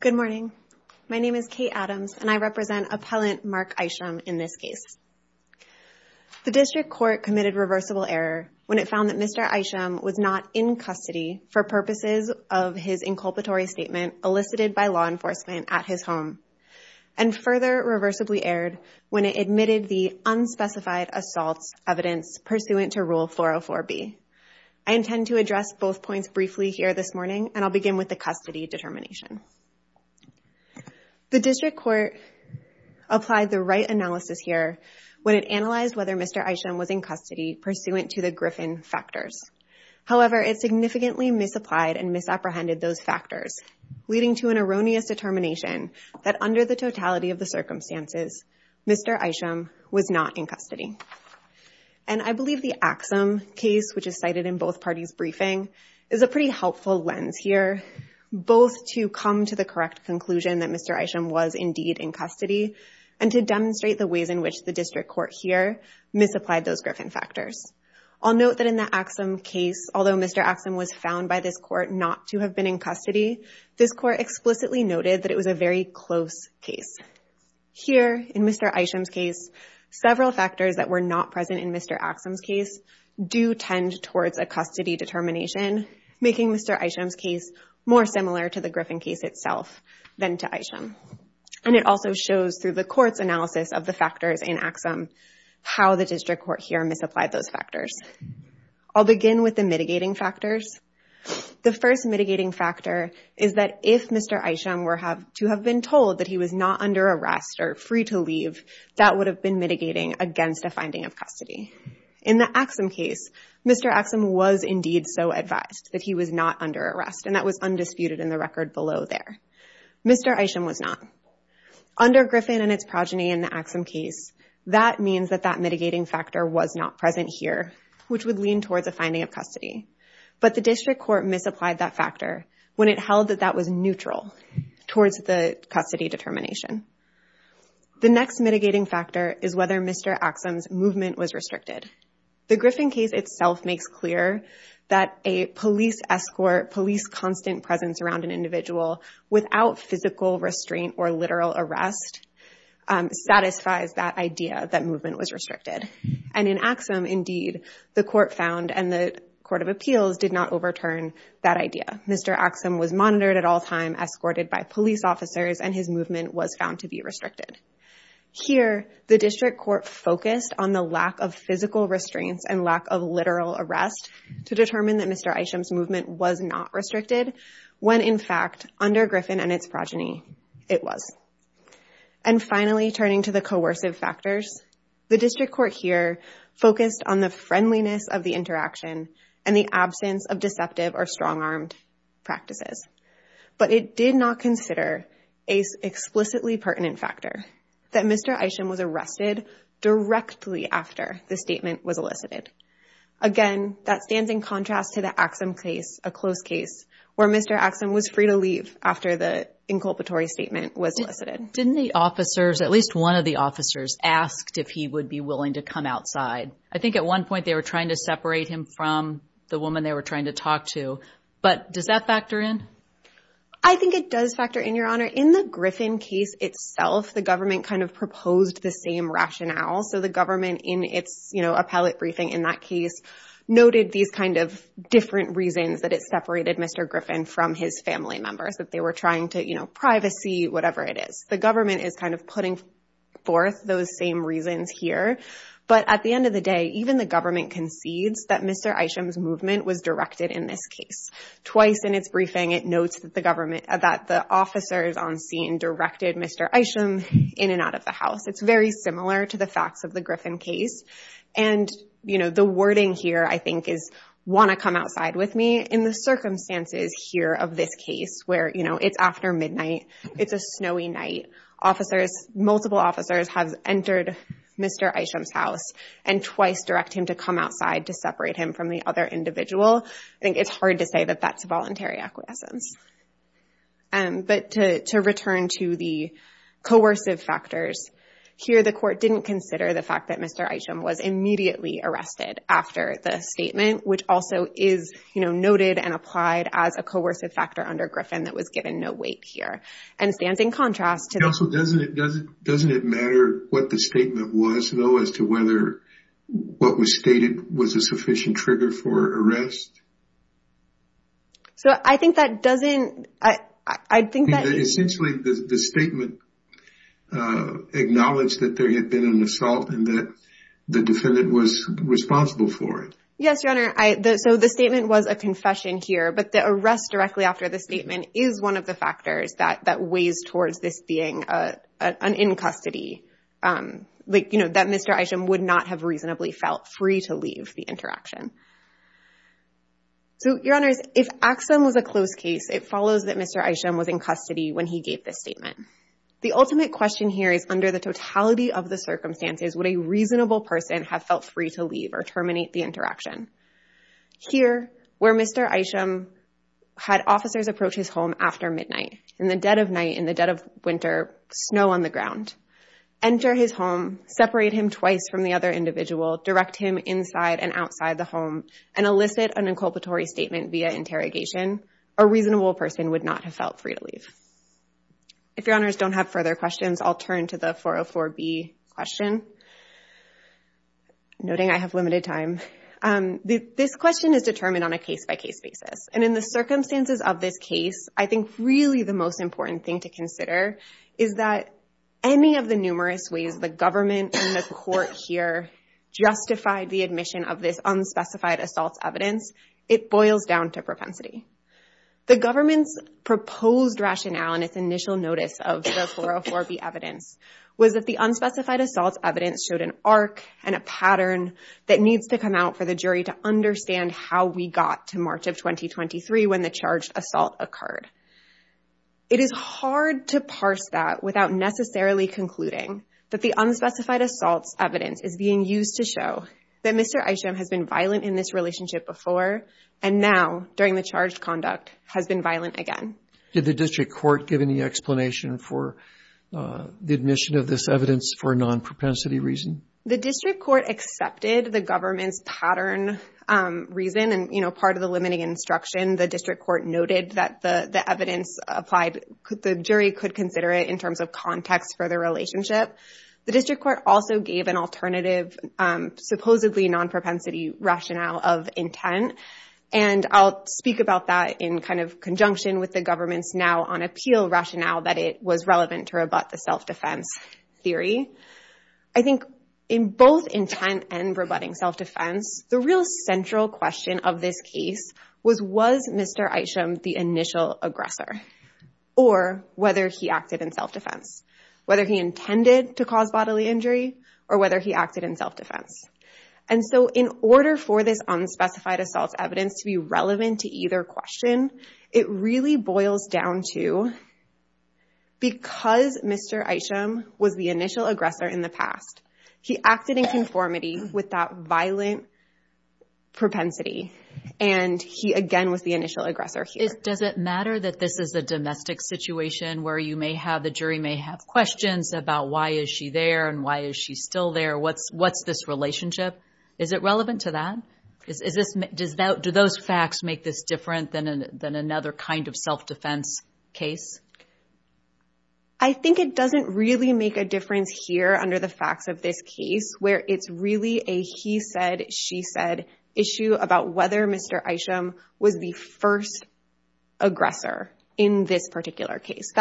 Good morning. My name is Kate Adams, and I represent appellant Mark Isham in this case. The district court committed reversible error when it found that Mr. Isham was not in custody for purposes of his inculpatory statement elicited by law enforcement at his home, and further reversibly erred when it admitted the unspecified assaults evidence pursuant to Rule 404B. I intend to address both points briefly here this morning, and I'll begin with the custody determination. The district court applied the right analysis here when it analyzed whether Mr. Isham was in custody pursuant to the Griffin factors. However, it significantly misapplied and misapprehended those factors, leading to an erroneous determination that, under the totality of the circumstances, Mr. Isham was not in custody. And I believe the Axum case, which is cited in both parties' briefing, is a pretty helpful lens here both to come to the correct conclusion that Mr. Isham was indeed in custody, and to demonstrate the ways in which the district court here misapplied those Griffin factors. I'll note that in the case where Mr. Axum was found by this court not to have been in custody, this court explicitly noted that it was a very close case. Here, in Mr. Isham's case, several factors that were not present in Mr. Axum's case do tend towards a custody determination, making Mr. Isham's case more similar to the Griffin case itself than to Isham. And it also shows, through the court's analysis of the factors in Axum, how the district court here misapplied those factors. I'll begin with the mitigating factors. The first mitigating factor is that if Mr. Isham were to have been told that he was not under arrest or free to leave, that would have been mitigating against a finding of custody. In the Axum case, Mr. Axum was indeed so advised that he was not under arrest, and that was undisputed in the record below there. Mr. Isham was not. Under Griffin and its progeny in the Axum case, that means that that mitigating factor was not present here, which would lean towards a finding of custody. But the district court misapplied that factor when it held that that was neutral towards the custody determination. The next mitigating factor is whether Mr. Axum's movement was restricted. The Griffin case itself makes clear that a police escort, police constant presence around an individual without physical restraint or literal arrest, satisfies that idea that movement was restricted. And in Axum, indeed, the court found and the Court of Appeals did not overturn that idea. Mr. Axum was monitored at all time, escorted by police officers, and his movement was found to be restricted. Here, the district court focused on the lack of physical restraints and lack of literal arrest to determine that Mr. Isham's movement was not restricted, when in fact, under Griffin and its progeny, it was. And finally, turning to the coercive factors, the district court here focused on the friendliness of the interaction and the absence of deceptive or strong-armed practices. But it did not consider an explicitly pertinent factor that Mr. Isham was arrested directly after the statement was elicited. Again, that stands in contrast to the Axum case, a close Didn't the officers, at least one of the officers, asked if he would be willing to come outside? I think at one point, they were trying to separate him from the woman they were trying to talk to. But does that factor in? I think it does factor in, Your Honor. In the Griffin case itself, the government kind of proposed the same rationale. So the government in its, you know, appellate briefing in that case, noted these kind of different reasons that it separated Mr. Griffin from his family members, that they were trying to, you know, privacy, whatever it is. The government is kind of putting forth those same reasons here. But at the end of the day, even the government concedes that Mr. Isham's movement was directed in this case. Twice in its briefing, it notes that the government, that the officers on scene directed Mr. Isham in and out of the house. It's very similar to the facts of the Griffin case. And, you know, the wording here, I think, is want to come outside with me in the circumstances here of this case where, you know, it's after midnight, it's a snowy night, officers, multiple officers have entered Mr. Isham's house and twice direct him to come outside to separate him from the other individual. I think it's hard to say that that's a voluntary acquiescence. But to return to the coercive factors, here the court didn't consider the fact that Mr. Isham was immediately arrested after the statement, which also is, you know, noted and applied as a coercive factor under Griffin that was given no weight here. And it stands in contrast to... Counsel, doesn't it matter what the statement was, though, as to whether what was stated was a sufficient trigger for arrest? So I think that doesn't... I think that essentially the statement acknowledged that there had been an assault and that the defendant was responsible for it. Yes, Your Honor. So the statement was a confession here, but the arrest directly after the statement is one of the factors that weighs towards this being an in-custody, like, you know, that Mr. Isham would not have reasonably felt free to leave the interaction. So, Your Honors, if Axum was a closed case, it follows that Mr. Isham was in custody when he gave this statement. The ultimate question here is, under the totality of the circumstances, would a reasonable person have felt free to leave or terminate the interaction? Here, where Mr. Isham had officers approach his home after midnight, in the dead of night, in the dead of winter, snow on the ground, enter his home, separate him twice from the other individual, direct him inside and outside the home, and elicit an inculpatory statement via interrogation, a reasonable person would not have felt free to leave. If Your Honors don't have further questions, I'll turn to the 404B question, noting I have limited time. This question is determined on a case-by-case basis, and in the circumstances of this case, I think really the most important thing to consider is that any of the numerous ways the government and the court here justified the admission of this unspecified assault evidence, it boils down to propensity. The government's proposed rationale in its initial notice of the 404B evidence was that the unspecified assault evidence showed an arc and a pattern that needs to come out for the jury to understand how we got to March of 2023 when the charged assault occurred. It is hard to parse that without necessarily concluding that the unspecified and now, during the charged conduct, has been violent again. Did the district court give any explanation for the admission of this evidence for a non-propensity reason? The district court accepted the government's pattern reason, and part of the limiting instruction, the district court noted that the evidence applied, the jury could consider it in terms of context for the relationship. The district court also gave an alternative supposedly non-propensity rationale of intent, and I'll speak about that in conjunction with the government's now on appeal rationale that it was relevant to rebut the self-defense theory. I think in both intent and rebutting self-defense, the real central question of this case was, was Mr. Isham the initial aggressor, or whether he acted in self-defense, whether he intended to cause bodily injury, or whether he acted in self-defense. And so, in order for this unspecified assault evidence to be relevant to either question, it really boils down to because Mr. Isham was the initial aggressor in the past, he acted in conformity with that violent propensity, and he again was the initial aggressor here. Does it matter that this is a domestic situation where you may have, the jury may have questions about why is she there and why is she still there, what's this relationship? Is it relevant to that? Do those facts make this different than another kind of self-defense case? I think it doesn't really make a difference here under the facts of this case, where it's really a he said, she said issue about whether Mr. Isham was the first aggressor in this case.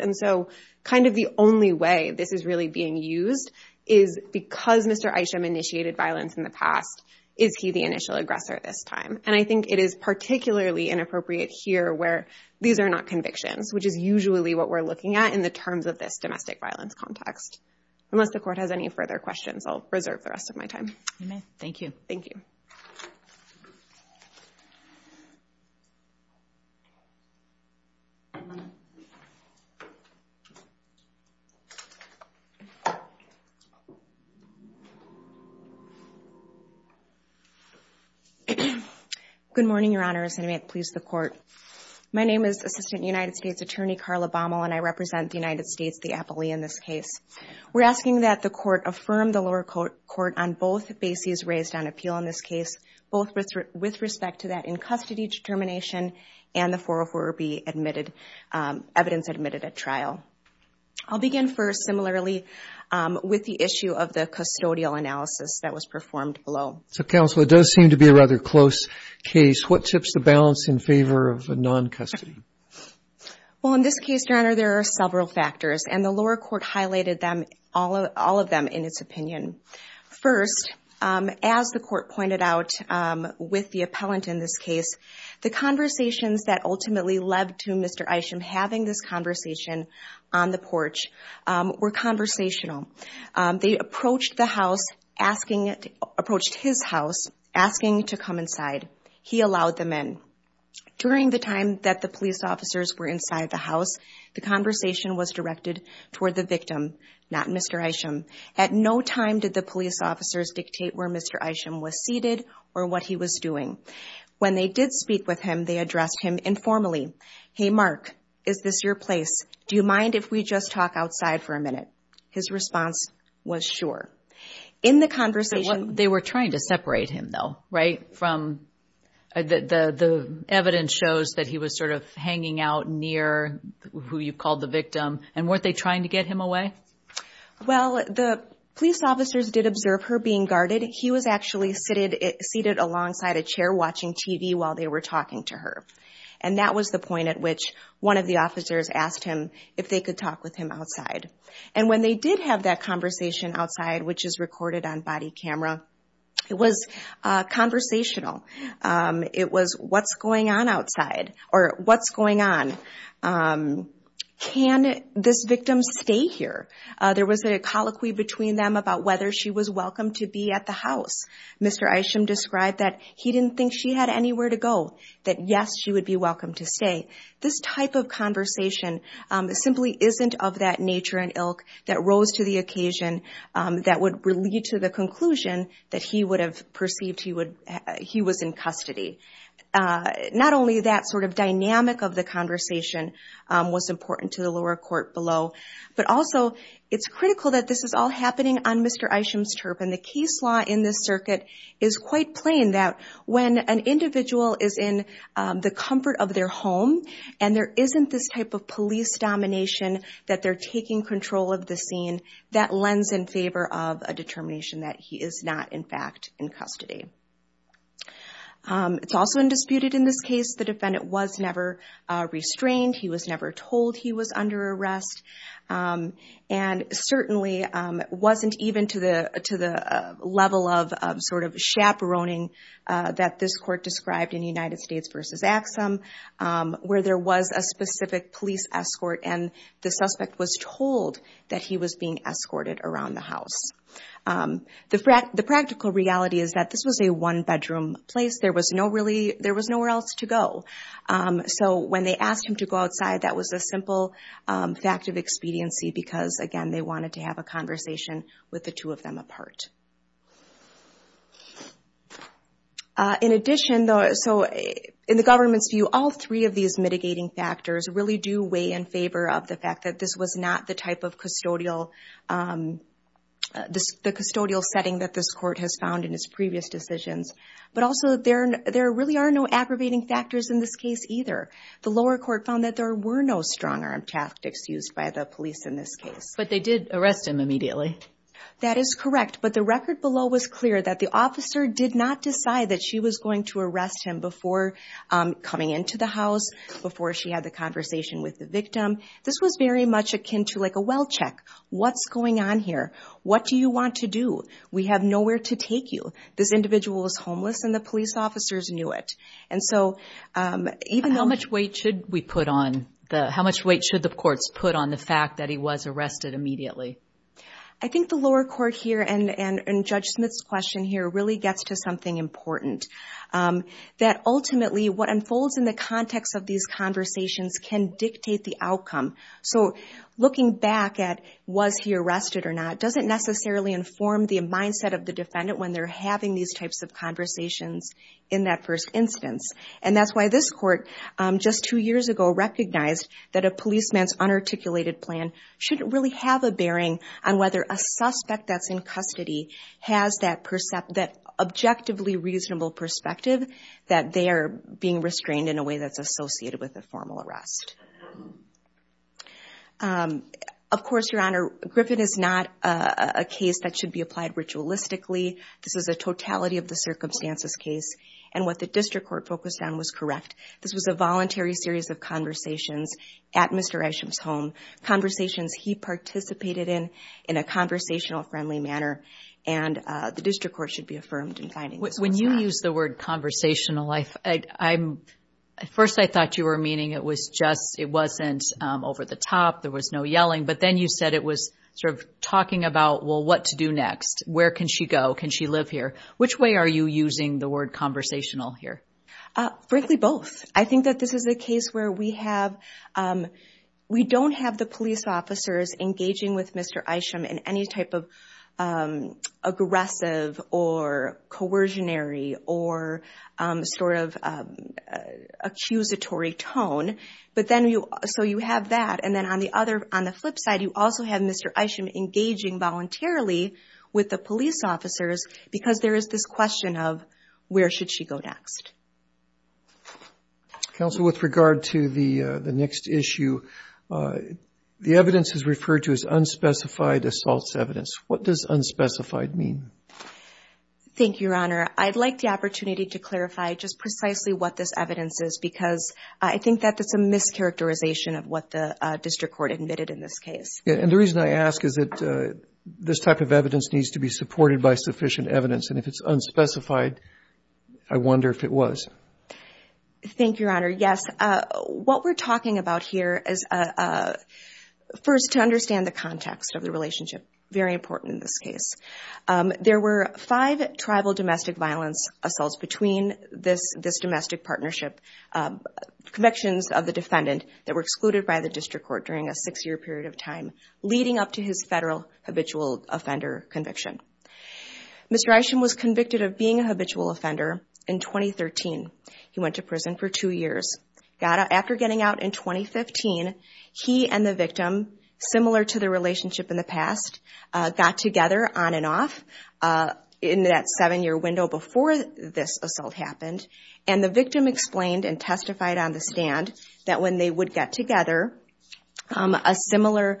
And so, kind of the only way this is really being used is because Mr. Isham initiated violence in the past, is he the initial aggressor this time? And I think it is particularly inappropriate here where these are not convictions, which is usually what we're looking at in the terms of this domestic violence context. Unless the court has any further questions, I'll reserve the rest of my time. Thank you. Thank you. Good morning, Your Honor, as I may please the court. My name is Assistant United States Attorney Carla Baumel and I represent the United States, the appellee in this case. We're asking that the court affirm the lower court on both bases raised on appeal in this case, both with respect to that in custody determination and the 404B evidence admitted at trial. I'll begin first, similarly, with the issue of the custodial analysis that was performed below. So, Counsel, it does seem to be a rather close case. What tips the balance in favor of the non-custody? Well, in this case, Your Honor, there are several factors and the lower court highlighted them, all of them, in its opinion. First, as the court pointed out with the appellant in this case, the conversations that ultimately led to Mr. Isham having this conversation on the porch were conversational. They approached the house, approached his house, asking to come inside. He allowed them in. During the time that the police officers were inside the house, the conversation was directed toward the victim, not Mr. Isham. At no time did the police officers dictate where Mr. Isham was seated or what he was doing. When they did speak with him, they addressed him informally. Hey, Mark, is this your place? Do you mind if we just talk outside for a minute? His response was sure. In the conversation... They were trying to separate him, though, right, from the evidence shows that he was sort of hanging out near who you called the victim, and weren't they trying to get him away? Well, the police officers did observe her being guarded. He was actually seated alongside a chair watching TV while they were talking to her. And that was the point at which one of the officers asked him if they could talk with him outside. And when they did have that conversation outside, which is recorded on body camera, it was conversational. It was what's going on outside or what's going on? Can this victim stay here? There was a colloquy between them about whether she was welcome to be at the house. Mr. Isham described that he didn't think she had anywhere to go, that yes, she would be welcome to stay. This type of conversation simply isn't of that nature in ilk that rose to the occasion that would lead to the conclusion that he would have perceived he was in custody. Not only that sort of dynamic of the conversation was important to the lower court below, but also it's critical that this is all happening on Mr. Isham's turf. And the case law in this circuit is quite plain that when an individual is in the comfort of their home and there isn't this type of police domination that they're taking control of the scene, that lends in favor of a determination that he is not, in fact, in custody. It's also undisputed in this case, the defendant was never restrained. He was never told he was under arrest. And certainly, it wasn't even to the level of sort of chaperoning that this court described in United States v. Axum, where there was a specific police escort and the suspect was told that he was being escorted around the house. The practical reality is that this was a one-bedroom place. There was nowhere else to go. So when they asked him to go outside, that was a simple fact of expediency because, again, they wanted to have a conversation with the two of them apart. In addition, in the government's view, all three of these mitigating factors really do in favor of the fact that this was not the type of custodial setting that this court has found in his previous decisions. But also, there really are no aggravating factors in this case either. The lower court found that there were no strong arm tactics used by the police in this case. But they did arrest him immediately. That is correct. But the record below was clear that the officer did not decide that she was going to arrest him before coming into the house, before she had the conversation with the victim. This was very much akin to like a well check. What's going on here? What do you want to do? We have nowhere to take you. This individual was homeless and the police officers knew it. And so, even though— How much weight should we put on the—how much weight should the courts put on the fact that he was arrested immediately? I think the lower court here and Judge Smith's question here really gets to something important. That ultimately, what unfolds in the context of these conversations can dictate the outcome. So looking back at was he arrested or not doesn't necessarily inform the mindset of the defendant when they're having these types of conversations in that first instance. And that's why this court just two years ago recognized that a policeman's unarticulated plan shouldn't really have a bearing on whether a suspect that's in custody has that objectively reasonable perspective that they are being restrained in a way that's associated with a formal arrest. Of course, Your Honor, Griffin is not a case that should be applied ritualistically. This is a totality of the circumstances case. And what the district court focused on was correct. This was a voluntary series of conversations at Mr. Isham's home, conversations he participated in in a conversational, friendly manner. And the district court should be affirmed in finding When you use the word conversational, at first I thought you were meaning it wasn't over the top, there was no yelling. But then you said it was sort of talking about, well, what to do next? Where can she go? Can she live here? Which way are you using the word conversational here? Frankly, both. I think that this is a case where we don't have the police officers engaging with Mr. Isham in any type of aggressive or coercionary or sort of accusatory tone. So you have that. And then on the flip side, you also have Mr. Isham engaging voluntarily with the police officers because there is this question of where should she go next? Counsel, with regard to the next issue, the evidence is referred to as unspecified assaults evidence. What does unspecified mean? Thank you, Your Honor. I'd like the opportunity to clarify just precisely what this evidence is because I think that that's a mischaracterization of what the district court admitted in this case. And the reason I ask is that this type of evidence needs to be supported by sufficient evidence. And if it's unspecified, I wonder if it was. Thank you, Your Honor. Yes. What we're talking about here is first to understand the context of the relationship, very important in this case. There were five tribal domestic violence assaults between this domestic partnership convictions of the defendant that were excluded by the district court during a six-year period of time leading up to his federal habitual offender conviction. Mr. Isham was convicted of being a habitual offender in 2013. He went to prison for two years. After getting out in 2015, he and the victim, similar to the relationship in the past, got together on and off in that seven-year window before this assault happened. And the victim explained and testified on the stand that when they would get together, a similar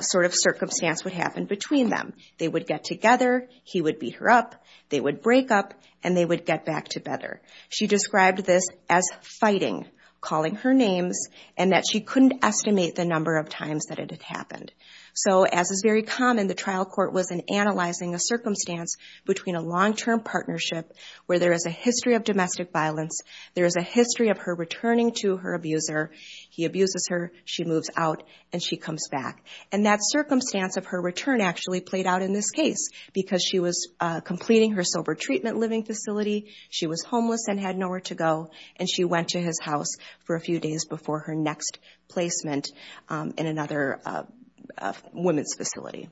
sort of circumstance would happen between them. They would get together, he would beat her up, they would break up, and they would get back together. She described this as fighting, calling her names, and that she couldn't estimate the number of times that it had happened. So as is very common, the trial court was in analyzing a circumstance between a long-term partnership where there is a history of domestic violence, there is a history of her returning to her abuser, he abuses her, she moves out, and she comes back. And that circumstance of her return actually played out in this case because she was completing her sober treatment living facility, she was homeless and had nowhere to go, and she went to his house for a few days before her next placement in another women's facility.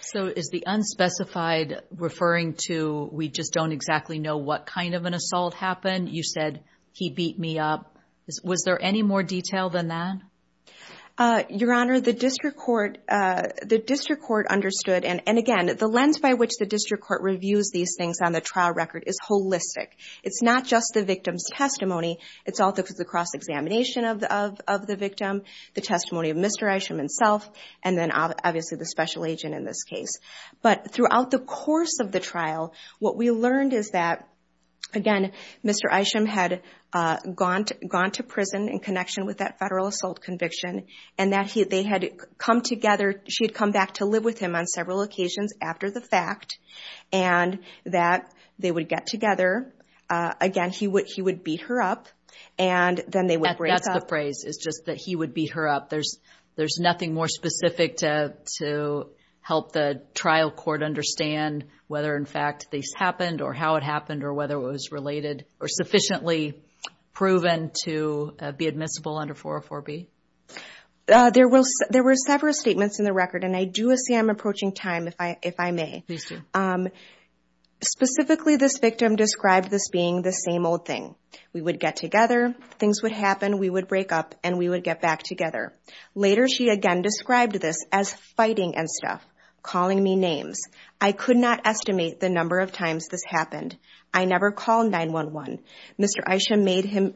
So is the unspecified referring to we just don't exactly know what kind of an assault happened? You said, he beat me up. Was there any more detail than that? Your Honor, the district court understood, and again, the lens by which the district court reviews these things on the trial record is holistic. It's not just the victim's testimony, it's also the cross-examination of the victim, the testimony of Mr. Isham himself, and then obviously the special agent in this case. But throughout the course of the trial, what we learned is that, again, Mr. Isham had gone to prison in connection with that federal assault conviction, and that they had come together, she had come back to live with him on several occasions after the fact, and that they would get together, again, he would beat her up, and then they would break up. That's the phrase, is just that he would beat her up. There's nothing more specific to help the trial court understand whether, in fact, this happened, or how it happened, or whether it was related, or sufficiently proven to be admissible under 404B? There were several statements in the record, and I do see I'm approaching time, if I may. Please do. Specifically, this victim described this being the same old thing. We would get together, things would happen, we would break up, and we would get back together. Later, she again described this as fighting and stuff, calling me names. I could not estimate the number of times this happened. I never called 911. Mr. Isham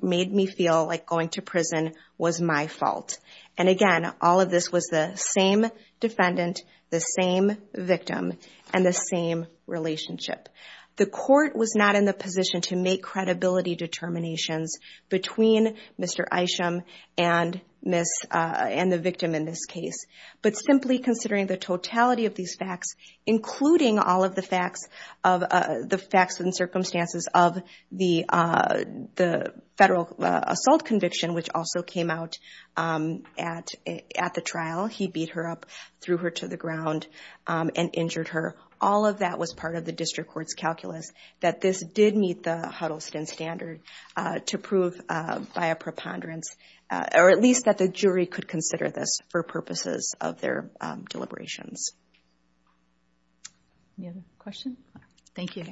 made me feel like going to prison was my fault. And again, all of this was the same defendant, the same victim, and the same relationship. The court was not in the position to make credibility determinations between Mr. Isham and the victim in this case. But simply considering the totality of these facts, including all of the facts and circumstances of the federal assault conviction, which also came out at the trial. He beat her up, threw her to the ground, and injured her. All of that was part of the district court's calculus, that this did meet the Huddleston standard to prove by a preponderance, or at least that the jury could consider this for purposes of their deliberations. Any other questions? Thank you.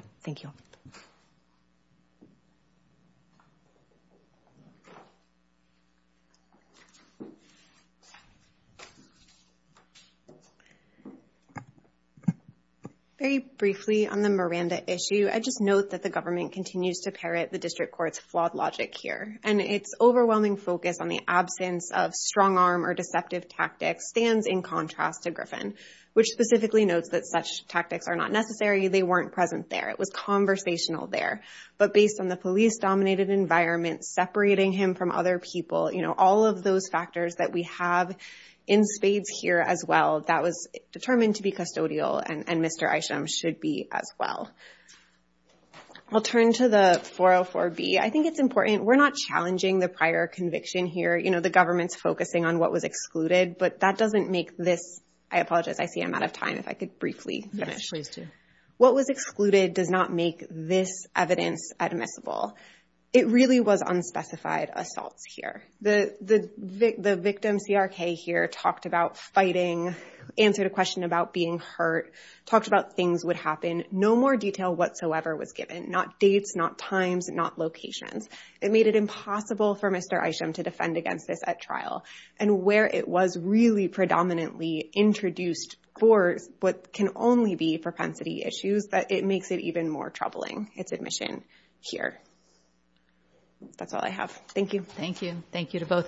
Very briefly on the Miranda issue, I just note that the government continues to parrot the district court's flawed logic here. And its overwhelming focus on the absence of strongarm or deceptive tactics stands in contrast to Griffin, which specifically notes that such tactics are not necessary. They weren't present there. It was conversational there. But based on the police-dominated environment, separating him from other people, all of those factors that we have in spades here as well, that was determined to be custodial, and Mr. Isham should be as well. I'll turn to the 404B. I think it's important. We're not challenging the prior conviction here. You know, the government's focusing on what was excluded, but that doesn't make this – I apologize, I see I'm out of time. If I could briefly finish. Yes, please do. What was excluded does not make this evidence admissible. It really was unspecified assaults here. The victim CRK here talked about fighting, answered a question about being hurt, talked about things would happen. No more detail whatsoever was given. Not dates, not times, not locations. It made it impossible for Mr. Isham to defend against this at trial. And where it was really predominantly introduced for what can only be propensity issues, it makes it even more troubling, its admission here. That's all I have. Thank you. Thank you. Thank you to both.